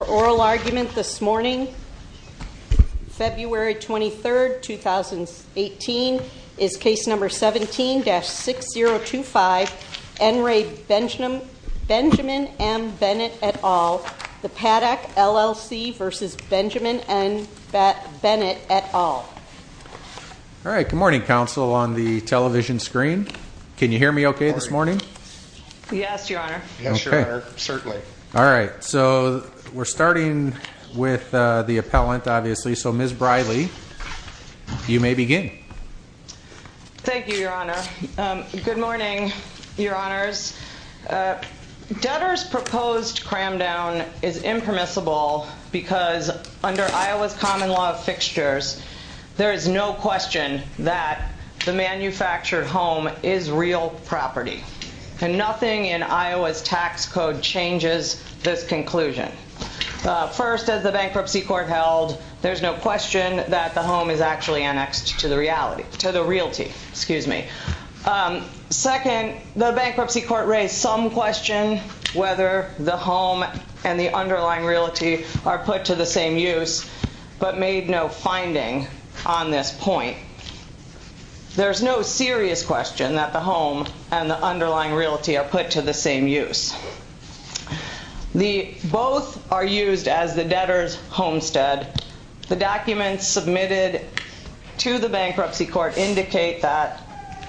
Our oral argument this morning, February 23, 2018, is Case No. 17-6025, N. Ray Benjamin M. Bennett, et al., the Paddock, LLC v. Benjamin M. Bennett, et al. All right, good morning, Counsel, on the television screen. Can you hear me okay this morning? Yes, Your Honor. Yes, Your Honor, certainly. All right, so we're starting with the appellant, obviously, so Ms. Briley, you may begin. Thank you, Your Honor. Good morning, Your Honors. Dutter's proposed cram-down is impermissible because under Iowa's common law of fixtures, there is no question that the manufactured home is real property. And nothing in Iowa's tax code changes this conclusion. First, as the Bankruptcy Court held, there's no question that the home is actually annexed to the reality, to the realty, excuse me. Second, the Bankruptcy Court raised some question whether the home and the underlying realty are put to the same use, but made no finding on this point. There's no serious question that the home and the underlying realty are put to the same use. Both are used as the debtor's homestead. The documents submitted to the Bankruptcy Court indicate that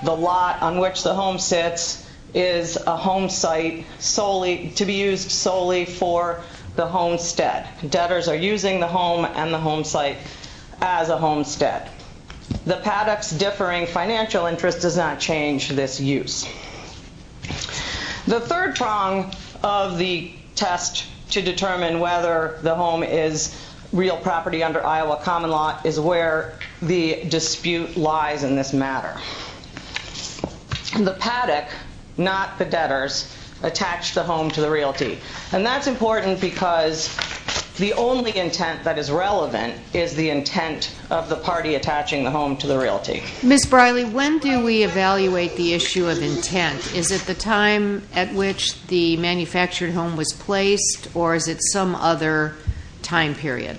the lot on which the home sits is a homesite solely, to be used solely for the homestead. Debtors are using the home and the homesite as a homestead. The PADOC's differing financial interest does not change this use. The third prong of the test to determine whether the home is real property under Iowa common law is where the dispute lies in this matter. The PADOC, not the debtors, attached the home to the realty. That's important because the only intent that is relevant is the intent of the party attaching the home to the realty. Ms. Briley, when do we evaluate the issue of intent? Is it the time at which the manufactured home was placed or is it some other time period?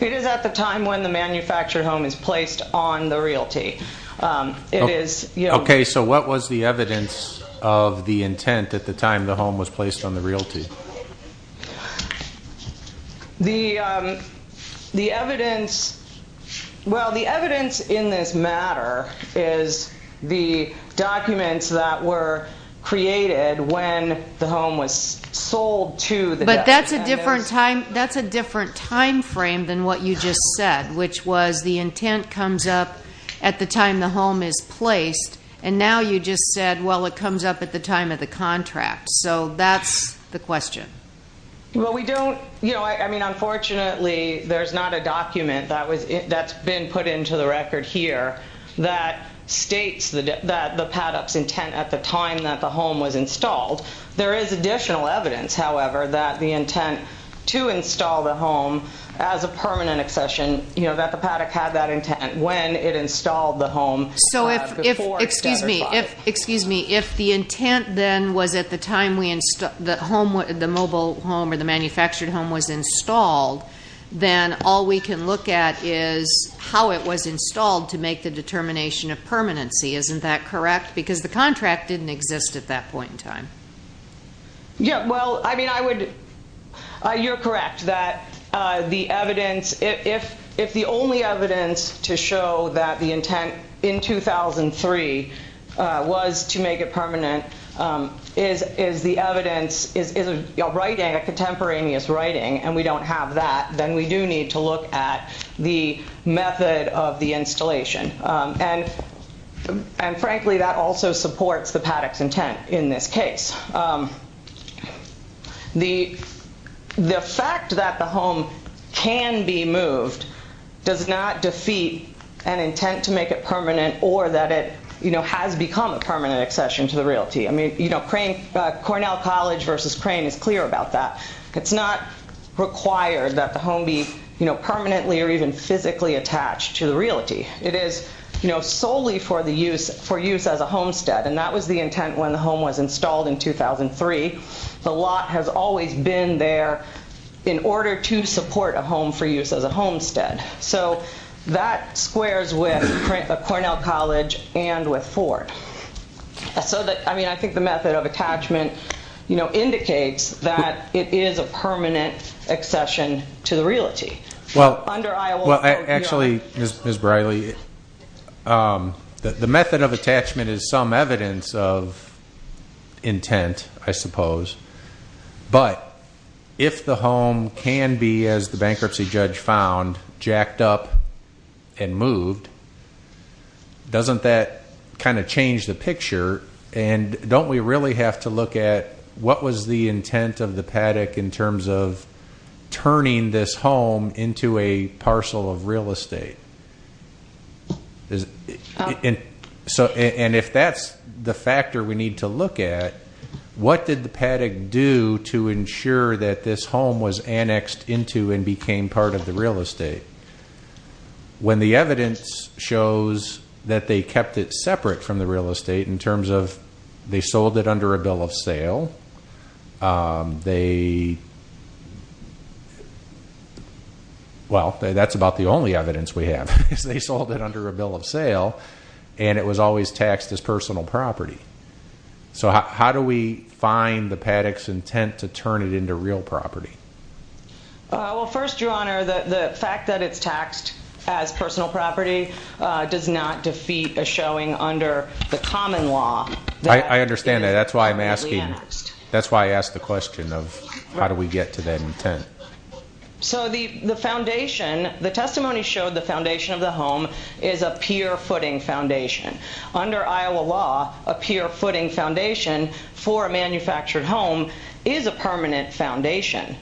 It is at the time when the manufactured home is placed on the realty. Okay, so what was the evidence of the intent at the time the home was placed on the realty? Well, the evidence in this matter is the documents that were created when the home was sold to the debtors. But that's a different time frame than what you just said, which was the intent comes up at the time the home is placed and now you just said, well, it comes up at the time of the contract. So that's the question. Well, we don't, you know, I mean, unfortunately there's not a document that's been put into the record here that states that the PADOC's intent at the time that the home was installed. There is additional evidence, however, that the intent to install the home as a permanent accession, you know, that the PADOC had that intent when it installed the home. So if, excuse me, if the intent then was at the time the home, the mobile home or the manufactured home was installed, then all we can look at is how it was installed to make the determination of permanency. Isn't that correct? Because the contract didn't exist at that point in time. Yeah, well, I mean, I would, you're correct that the evidence, if the only evidence to show that the intent in 2003 was to make it permanent is the evidence, is a writing, a contemporaneous writing, and we don't have that, then we do need to look at the method of the installation. And frankly, that also supports the PADOC's intent in this case. The fact that the home can be moved does not defeat an intent to make it permanent or that it, you know, has become a permanent accession to the realty. I mean, you know, Cornell College versus Crane is clear about that. It's not required that the home be, you know, permanently or even physically attached to the realty. It is, you know, solely for use as a homestead, and that was the intent when the home was installed in 2003. The lot has always been there in order to support a home for use as a homestead. So that squares with Cornell College and with Ford. So that, I mean, I think the method of attachment, you know, indicates that it is a permanent accession to the realty. Well, actually, Ms. Briley, the method of attachment is some evidence of intent, I suppose. But if the home can be, as the bankruptcy judge found, jacked up and moved, doesn't that kind of change the picture? And don't we really have to look at what was the intent of the PADOC in terms of turning this home into a parcel of real estate? And if that's the factor we need to look at, what did the PADOC do to ensure that this home was annexed into and became part of the real estate? When the evidence shows that they kept it separate from the real estate in terms of they sold it under a bill of sale, well, that's about the only evidence we have, is they sold it under a bill of sale and it was always taxed as personal property. So how do we find the PADOC's intent to turn it into real property? Well, first, Your Honor, the fact that it's taxed as personal property does not defeat a showing under the common law. I understand that. That's why I'm asking. That's why I asked the question of how do we get to that intent. So the foundation, the testimony showed the foundation of the home is a pure footing foundation. Under Iowa law, a pure footing foundation for a manufactured home is a permanent foundation.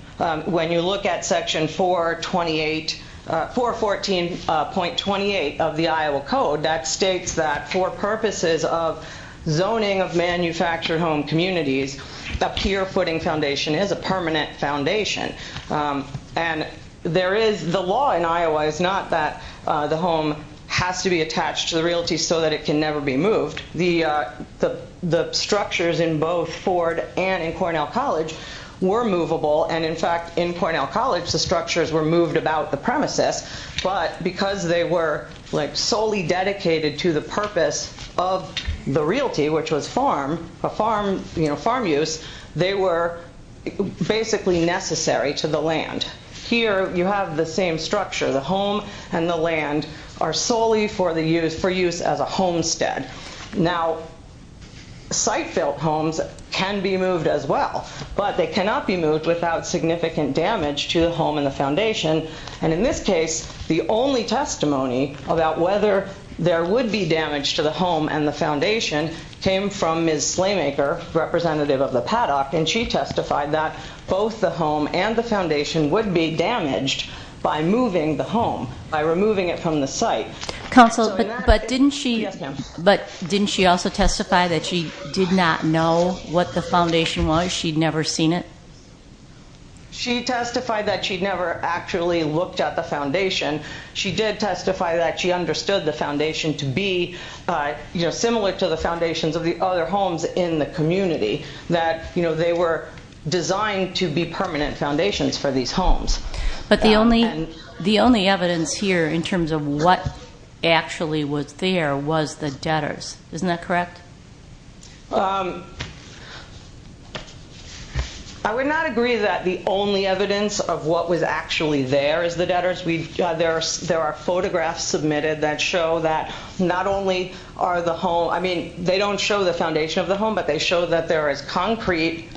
When you look at section 414.28 of the Iowa Code, that states that for purposes of zoning of manufactured home communities, a pure footing foundation is a permanent foundation. And the law in Iowa is not that the home has to be attached to the realty so that it can never be moved. The structures in both Ford and in Cornell College were movable and in fact, in Cornell College, the structures were moved about the premises but because they were solely dedicated to the purpose of the realty, which was farm, farm use, they were basically necessary to the land. Here, you have the same structure. The home and the land are solely for use as a homestead. Now, site-built homes can be moved as well but they cannot be moved without significant damage to the home and the foundation and in this case, the only testimony about whether there would be damage to the home and the foundation came from Ms. Slaymaker, representative of the Paddock, and she testified that both the home and the foundation would be damaged by moving the home, by removing it from the site. But didn't she also testify that she did not know what the foundation was? She'd never seen it? She testified that she'd never actually looked at the foundation. She did testify that she understood the foundation to be similar to the foundations of the other homes in the community, that they were designed to be permanent foundations for these homes. But the only evidence here in terms of what actually was there was the debtors. Isn't that correct? Um, I would not agree that the only evidence of what was actually there is the debtors. There are photographs submitted that show that not only are the home, I mean, they don't show the foundation of the home but they show that there is concrete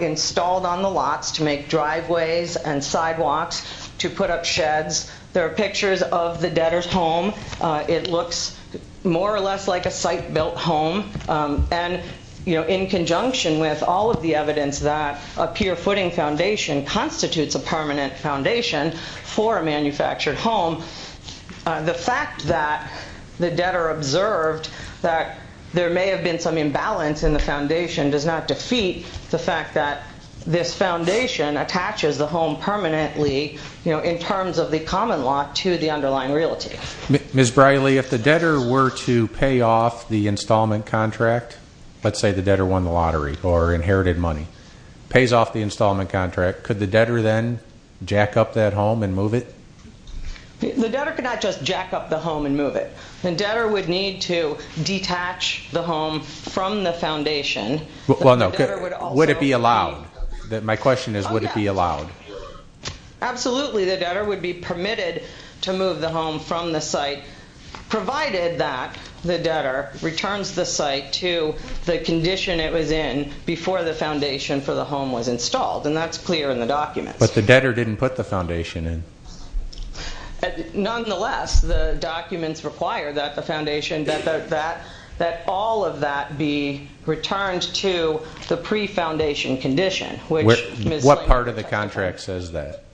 installed on the lots to make driveways and sidewalks to put up sheds. There are pictures of the debtors' home. It looks more or less like a site-built home. And, you know, in conjunction with all of the evidence that a pure footing foundation constitutes a permanent foundation for a manufactured home, the fact that the debtor observed that there may have been some imbalance in the foundation does not defeat the fact that this foundation attaches the home permanently in terms of the common lot to the underlying realty. Ms. Briley, if the debtor were to pay off the installment contract let's say the debtor won the lottery or inherited money pays off the installment contract, could the debtor then jack up that home and move it? The debtor could not just jack up the home and move it. The debtor would need to detach the home from the site. Would it be allowed? My question is, would it be allowed? Absolutely. The debtor would be permitted to move the home from the site provided that the debtor returns the site to the condition it was in before the foundation for the home was installed. And that's clear in the documents. But the debtor didn't put the foundation in. Nonetheless, the documents require that the foundation, that all of that be returned to the pre-foundation condition. What part of the contract says that?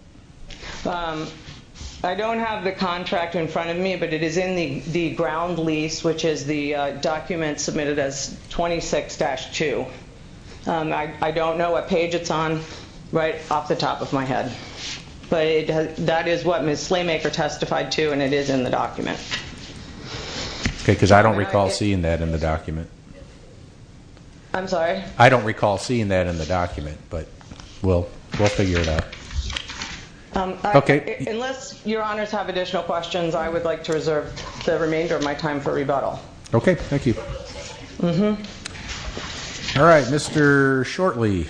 I don't have the contract in front of me, but it is in the ground lease which is the document submitted as 26-2. I don't know what page it's on right off the top of my head. But that is what Ms. Slaymaker testified to and it is in the document. Okay, because I don't recall seeing that in the document. I'm sorry? I don't recall seeing that in the document, but we'll figure it out. Unless your honors have additional questions, I would like to reserve the remainder of my time for rebuttal. Okay, thank you. Alright, Mr. Shortley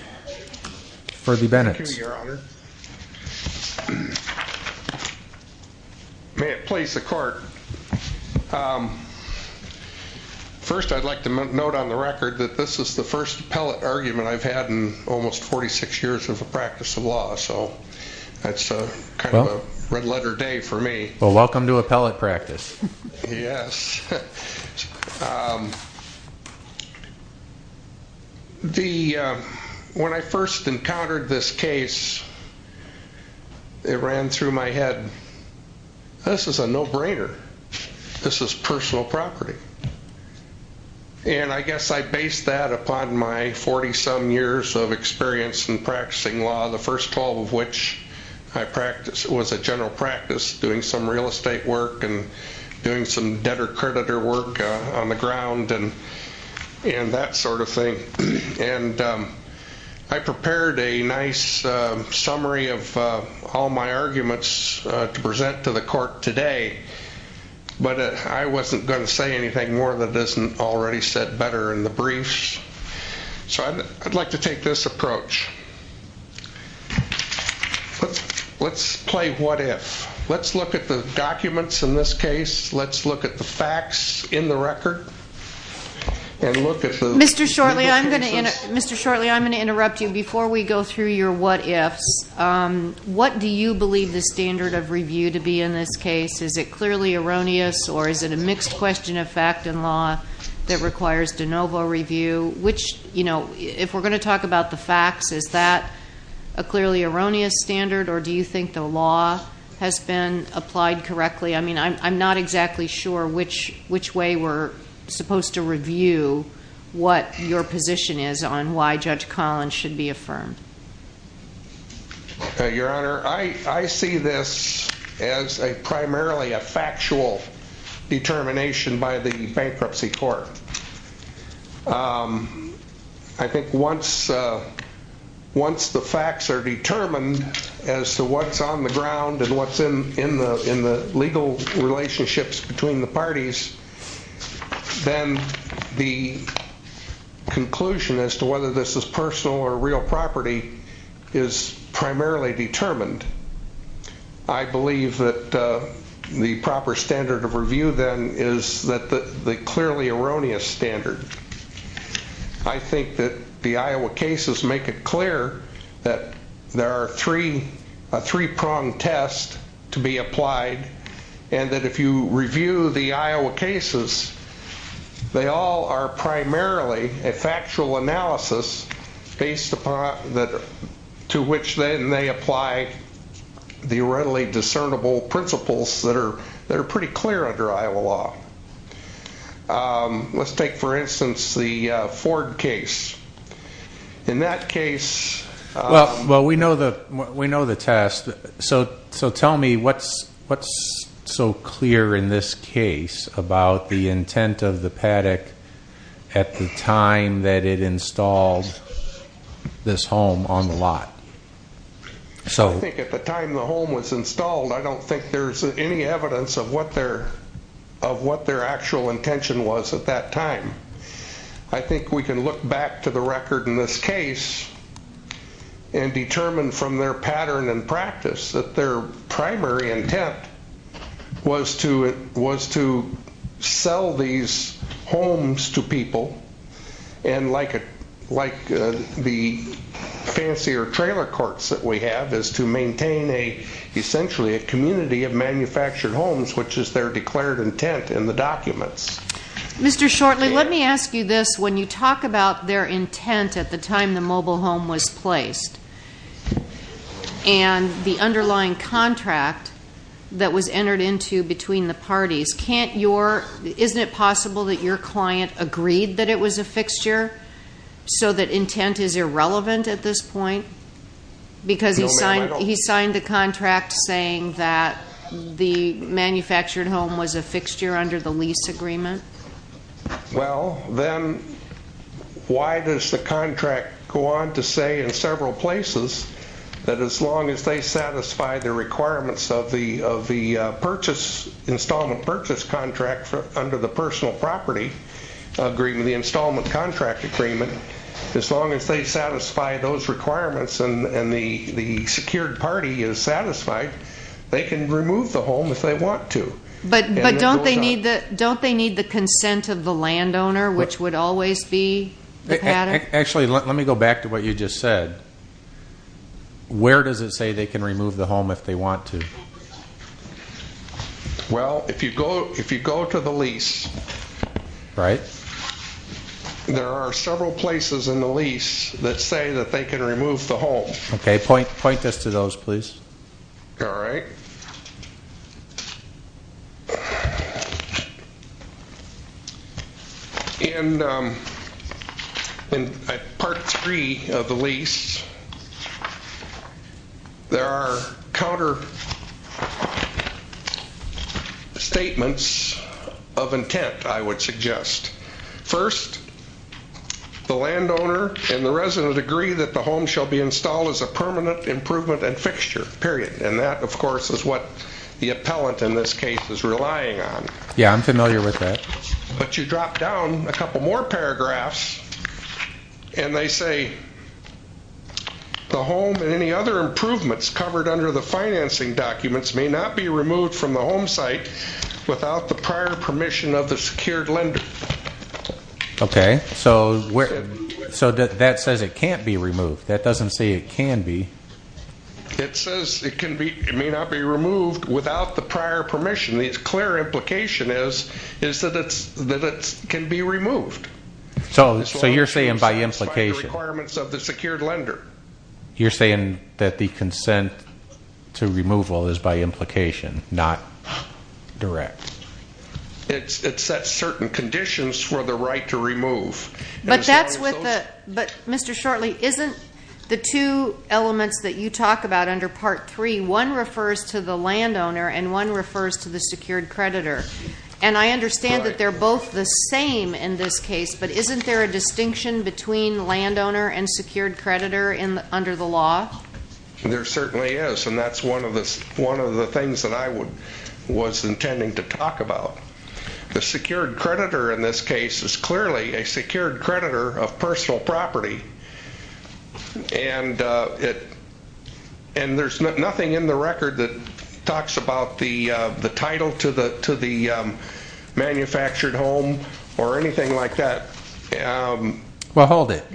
for the Bennetts. Thank you, your honor. May it please the court. First, I'd like to note on the record that this is the first appellate argument I've had in almost 46 years of a practice of law, so that's kind of a red letter day for me. Well, welcome to appellate practice. Yes. When I first encountered this case, it ran through my head. This is a no-brainer. This is personal property. And I guess I based that upon my 40-some years of experience in practicing law, the first 12 of which I practiced was a general practice doing some real estate work and doing some debtor-creditor work on the ground and that sort of thing. And I prepared a nice summary of all my arguments to present to the court today, but I wasn't going to say anything more that isn't already said better in the briefs, so I'd like to take this approach. Let's play what if. Let's look at the documents in this case. Let's look at the facts in the record and look at the... Mr. Shortley, I'm going to interrupt you. Before we go through your what ifs, what do you believe the standard of review to be in this case? Is it clearly erroneous or is it a mixed question of fact and law that requires de novo review? If we're going to talk about the facts, is that a clearly erroneous standard or do you think the law has been applied correctly? I mean, I'm not exactly sure which way we're supposed to review what your position is on why Judge Collins should be affirmed. Your Honor, I see this as primarily a factual determination by the bankruptcy court. I think once the facts are determined as to what's on the ground and what's in the legal relationships between the parties, then the conclusion as to whether this is personal or real property is primarily determined. I believe that the proper standard of review then is the clearly erroneous standard. I think that the Iowa cases make it clear that there are three pronged tests to be applied and that if you review the Iowa cases, they all are primarily a factual analysis to which then they apply the readily discernible principles that are pretty clear under Iowa law. Let's take, for instance, the Ford case. In that case... Well, we know the test, so tell me what's so clear in this case about the intent of the paddock at the time that it installed this home on the lot? I think at the time the home was installed, I don't think there's any evidence of what their actual intention was at that time. I think we can look back to the record in this case and determine from their pattern and practice that their primary intent was to sell these homes to people and like the fancier trailer courts that we have, is to maintain essentially a community of manufactured homes, which is their declared intent in the documents. Mr. Shortley, let me ask you this. When you talk about their intent at the time the mobile home was placed and the underlying contract that was entered into between the parties, can't your... isn't it possible that your client agreed that it was a fixture so that intent is irrelevant at this point? Because he signed the contract saying that the manufactured home was a fixture under the lease agreement? Well, then why does the contract go on to say in several places that as long as they satisfy the requirements of the installment purchase contract under the personal property agreement, the installment contract agreement, as long as they satisfy those requirements and the secured party is satisfied, they can remove the home if they want to. But don't they need the consent of the landowner which would always be the pattern? Actually, let me go back to what you just said. Where does it say they can remove the home if they want to? Well, if you go to the lease, there are several places in the lease that say that they can remove the home. Point this to those, please. Alright. In part 3 of the lease there are counter statements of intent, I would suggest. First, the landowner and the resident agree that the home shall be installed as a permanent improvement and fixture, period. And that, of course, is what the appellant in this case is relying on. Yeah, I'm familiar with that. But you drop down a couple more paragraphs and they say the home and any other improvements covered under the financing documents may not be removed from the home site without the prior permission of the secured lender. Okay, so that says it can't be It says it may not be removed without the prior permission. The clear implication is that it can be removed. So you're saying by implication You're saying that the consent to removal is by implication, not direct. It sets certain conditions for the right to remove. But that's with the, Mr. Shortley, isn't the two elements that you talk about under part 3, one refers to the landowner and one refers to the secured creditor. And I understand that they're both the same in this case, but isn't there a distinction between landowner and secured creditor under the law? There certainly is, and that's one of the things that I was intending to talk about. The secured creditor in this case is clearly a secured creditor of and there's nothing in the record that talks about the title to the manufactured home or anything like that Well, hold it.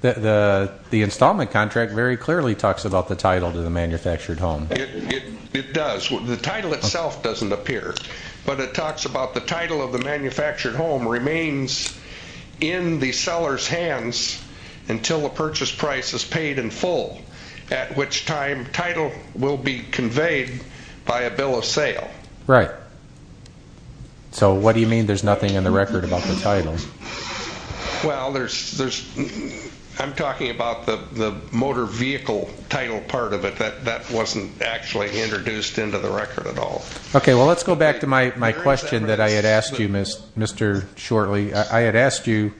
The installment contract very clearly talks about the title to the manufactured home. It does. The title itself doesn't appear, but it talks about the title of the manufactured home remains in the seller's until the purchase price is paid in full, at which time title will be conveyed by a bill of sale. Right. So what do you mean there's nothing in the record about the title? Well, there's... I'm talking about the motor vehicle title part of it. That wasn't actually introduced into the record at all. Okay, well let's go back to my question that I had asked you, Mr. Shortley. I had asked you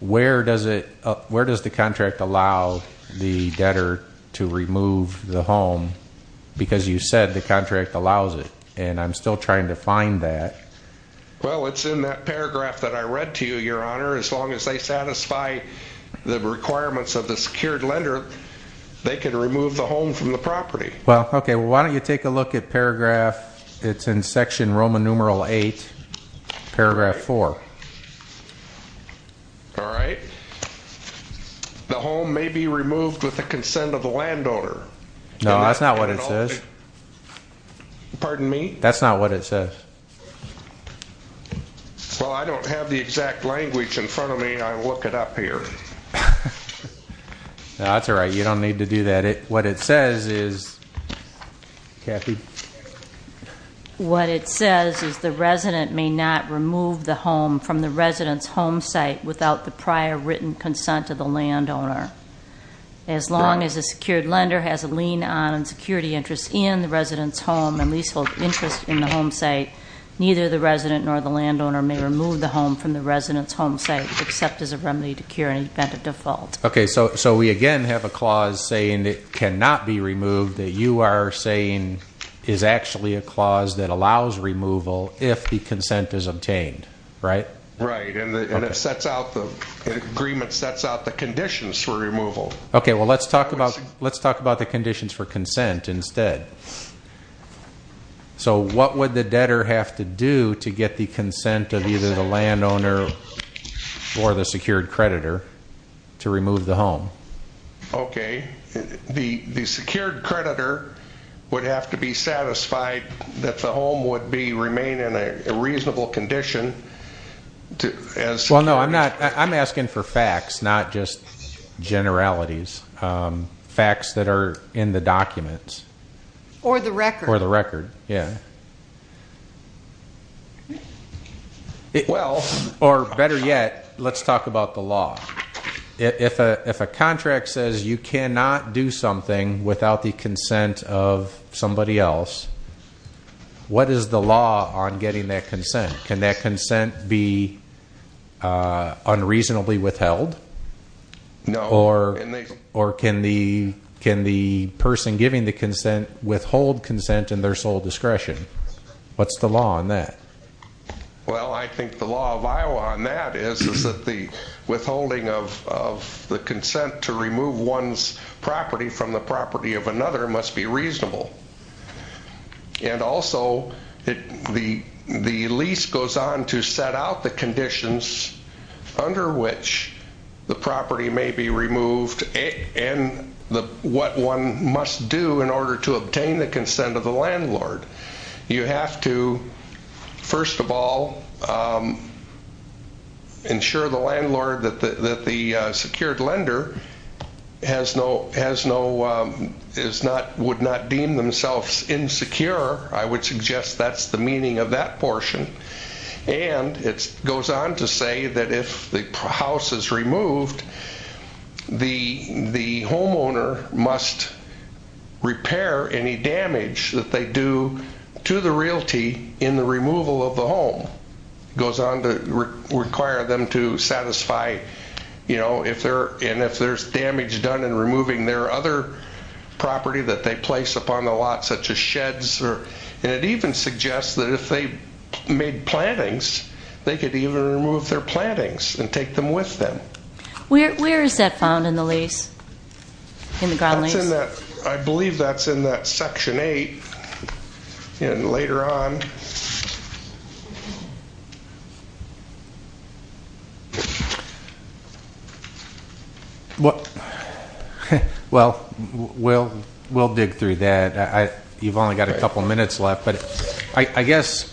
where does the contract allow the debtor to remove the home? Because you said the contract allows it, and I'm still trying to find that. Well, it's in that paragraph that I read to you, Your Honor. As long as they satisfy the requirements of the secured lender, they can remove the home from the property. Well, okay. Why don't you take a look at paragraph it's in section Roman numeral 8, paragraph 4. All right. The home may be removed with the consent of the landowner. No, that's not what it says. Pardon me? That's not what it says. Well, I don't have the exact language in front of me, and I look it up here. No, that's all right. You don't need to do that. What it says is... Kathy? What it says is the resident may not remove the home from the resident's home site without the prior written consent of the landowner. As long as a secured lender has a lien on security interest in the resident's home and leasehold interest in the home site, neither the resident nor the landowner may remove the home from the resident's home site except as a remedy to cure an event of default. Okay, so we again have a clause saying it cannot be removed that you are saying is actually a clause that allows removal if the consent is obtained, right? Right, and the agreement sets out the conditions for removal. Okay, well let's talk about the conditions for consent instead. So what would the debtor have to do to get the consent of either the landowner or the secured creditor to remove the home? Okay, the secured creditor would have to be satisfied that the home would remain in a reasonable condition. Well no, I'm asking for facts, not just generalities. Facts that are in the documents. Or the record. Yeah. Well, or better yet, let's talk about the law. If a contract says you cannot do something without the consent of somebody else, what is the law on getting that consent? Can that consent be unreasonably withheld? No. Or can the person giving the consent withhold consent in their sole discretion? What's the law on that? Well, I think the law of Iowa on that is that the withholding of the consent to remove one's property of another must be reasonable. And also the lease goes on to set out the conditions under which the property may be removed and what one must do in order to obtain the consent of the landlord. You have to first of all ensure the landlord, that the secured lender would not deem themselves insecure. I would suggest that's the meaning of that portion. And it goes on to say that if the house is removed, the homeowner must repair any damage that they do to the realty in the removal of the home. It goes on to require them to satisfy and if there's damage done in removing their other property that they place upon the lot, such as sheds and it even suggests that if they made plantings they could even remove their plantings and take them with them. Where is that found in the lease? In the ground lease? I believe that's in that section 8 and later on....... Well, we'll dig through that. You've only got a couple minutes left, but I guess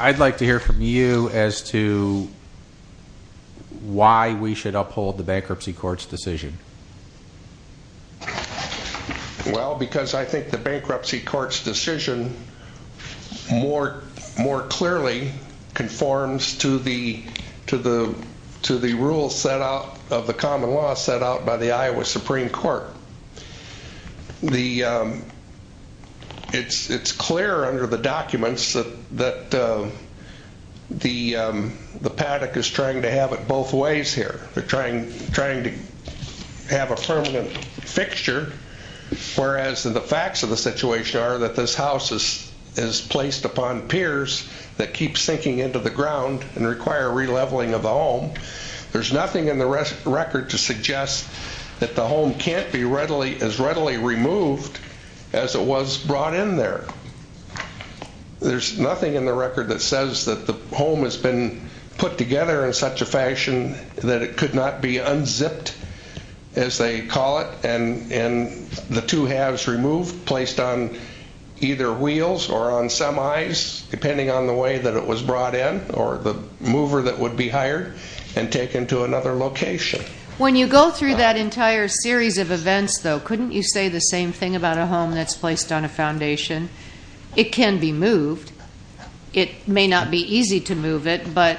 I'd like to hear from you as to why we should uphold the bankruptcy court's decision. Well, because I think the bankruptcy court's decision more clearly conforms to the rules set out of the common law set out by the Iowa Supreme Court. It's clear under the documents that the paddock is trying to have it both ways here. They're trying to have a permanent fixture, whereas the facts of the situation are that this house is placed upon piers that keep sinking into the ground and require re-leveling of the home. There's nothing in the record to suggest that the home can't be as readily removed as it was brought in there. There's nothing in the record that says that the home has been put together in such a fashion that it could not be unzipped, as they call it, and the two halves removed, placed on either wheels or on semis, depending on the way that it was brought in, or the mover that would be hired, and taken to another location. When you go through that entire series of events, though, couldn't you say the same thing about a home that's placed on a foundation? It can be moved. It may not be easy to move it, but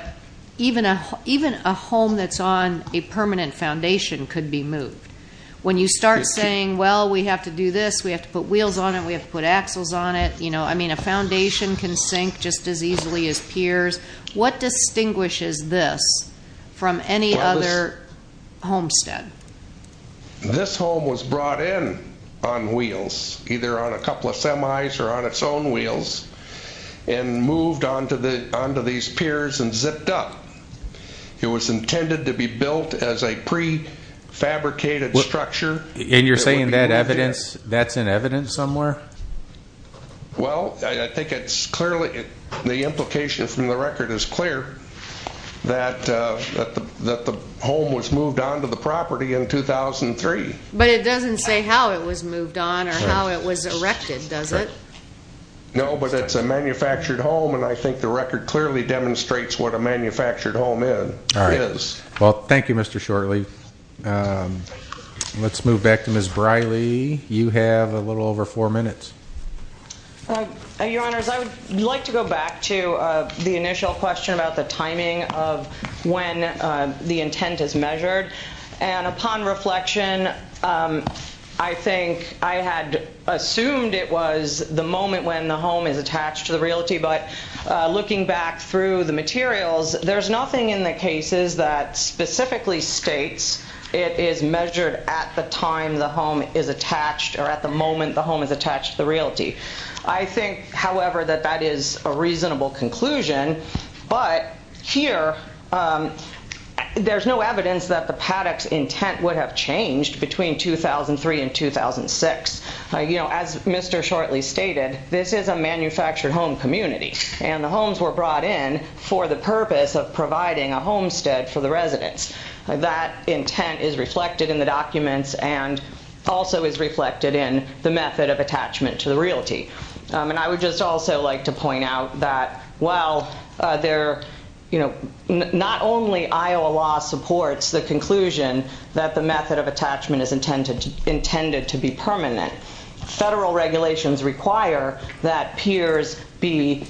even a home that's on a permanent foundation could be moved. When you start saying, well, we have to do this, we have to put wheels on it, we have to put axles on it, a foundation can sink just as easily as piers. What distinguishes this from any other homestead? This home was brought in on wheels, either on a couple of semis or on its own wheels, and moved onto these piers and zipped up. It was intended to be built as a prefabricated structure. And you're saying that evidence, that's in evidence somewhere? Well, I think it's clearly, the implication from the record is clear that the home was moved onto the property in 2003. But it doesn't say how it was moved on or how it was erected, does it? No, but it's a manufactured home, and I think the record clearly demonstrates what a manufactured home is. Well, thank you, Mr. Shorley. Let's move back to Ms. Briley. You have a little over four minutes. Your Honors, I would like to go back to the initial question about the timing of when the intent is measured. And upon reflection, I think I had assumed it was the moment when the home is attached to the realty, but looking back through the materials, there's nothing in the cases that specifically states it is measured at the time the home is attached or at the moment the home is attached to the realty. I think, however, that that is a reasonable conclusion, but here, there's no evidence that the paddock's intent would have changed between 2003 and 2006. As Mr. Shorley stated, this is a manufactured home community, and the homes were brought in for the purpose of providing a homestead for the residents. That intent is reflected in the documents and also is reflected in the method of attachment to the realty. And I would just also like to point out that while not only Iowa law supports the conclusion that the method of attachment is intended to be permanent, federal regulations require that piers be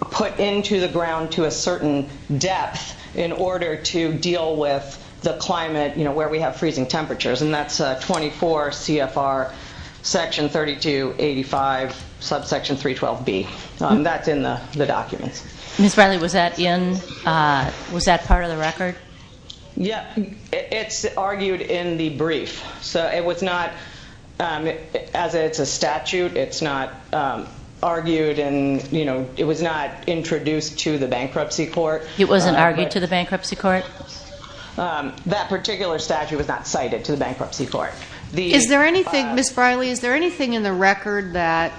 put into the ground to a certain depth in order to deal with the climate where we have freezing temperatures, and that's 24 CFR section 3285, subsection 312B. That's in the documents. Ms. Bradley, was that in was that part of the record? Yeah, it's argued in the brief, so it was not, as it's in the statute, it's not argued and, you know, it was not introduced to the bankruptcy court. It wasn't argued to the bankruptcy court? That particular statute was not cited to the bankruptcy court. Is there anything, Ms. Bradley, is there anything in the record that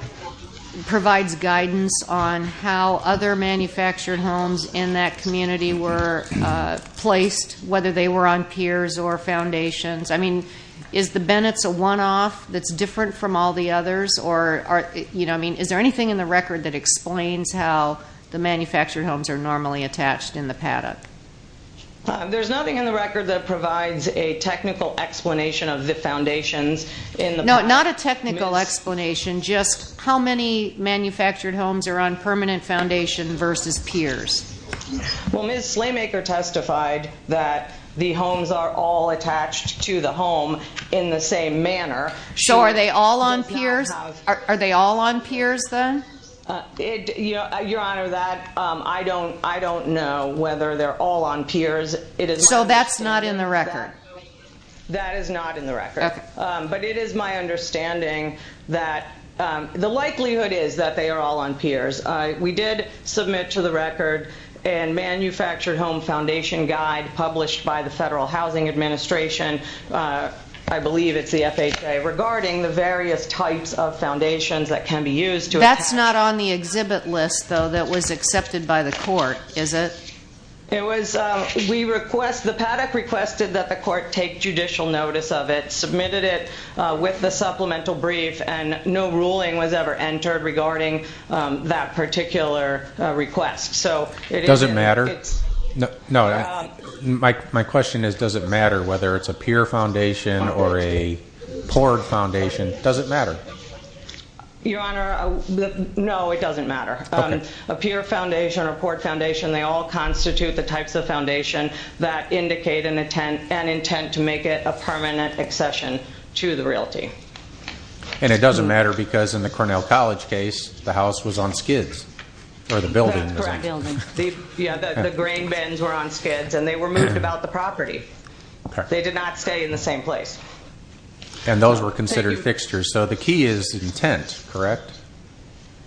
provides guidance on how other manufactured homes in that community were placed, whether they were on piers or foundations? I mean, is the Bennett's a and all the others, or, you know, I mean, is there anything in the record that explains how the manufactured homes are normally attached in the paddock? There's nothing in the record that provides a technical explanation of the foundations. No, not a technical explanation, just how many manufactured homes are on permanent foundation versus piers. Well, Ms. Slaymaker testified that the homes are all attached to the home in the same manner. So are they all on piers? Are they all on piers then? Your Honor, that, I don't know whether they're all on piers. So that's not in the record? That is not in the record. But it is my understanding that the likelihood is that they are all on piers. We did submit to the record a manufactured home foundation guide published by the Federal Housing Administration. I believe it's the FHA, regarding the various types of foundations that can be used to attach... That's not on the exhibit list though that was accepted by the court, is it? It was we request, the paddock requested that the court take judicial notice of it, submitted it with the supplemental brief, and no ruling was ever entered regarding that particular request. Does it matter? No. My question is, does it matter whether it's a pier foundation or a poured foundation? Does it matter? Your Honor, no it doesn't matter. A pier foundation or poured foundation, they all constitute the types of foundation that indicate an intent to make it a permanent accession to the realty. And it doesn't matter because in the Cornell College case the house was on skids, or the building. The grain bins were on skids and they were moved about the property. They did not stay in the same place. And those were considered fixtures, so the key is intent, correct?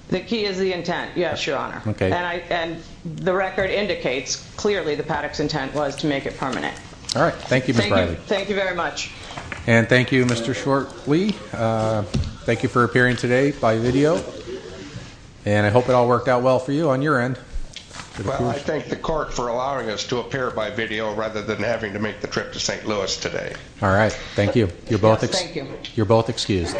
The key is the intent, yes, Your Honor. The record indicates clearly the paddock's intent was to make it permanent. Thank you, Ms. Riley. Thank you very much. And thank you, Mr. Shortley. Thank you for appearing today by video. And I hope it all worked out well for you on your end. Well, I thank the court for allowing us to appear by video rather than having to make the trip to St. Louis today. Alright, thank you. You're both excused.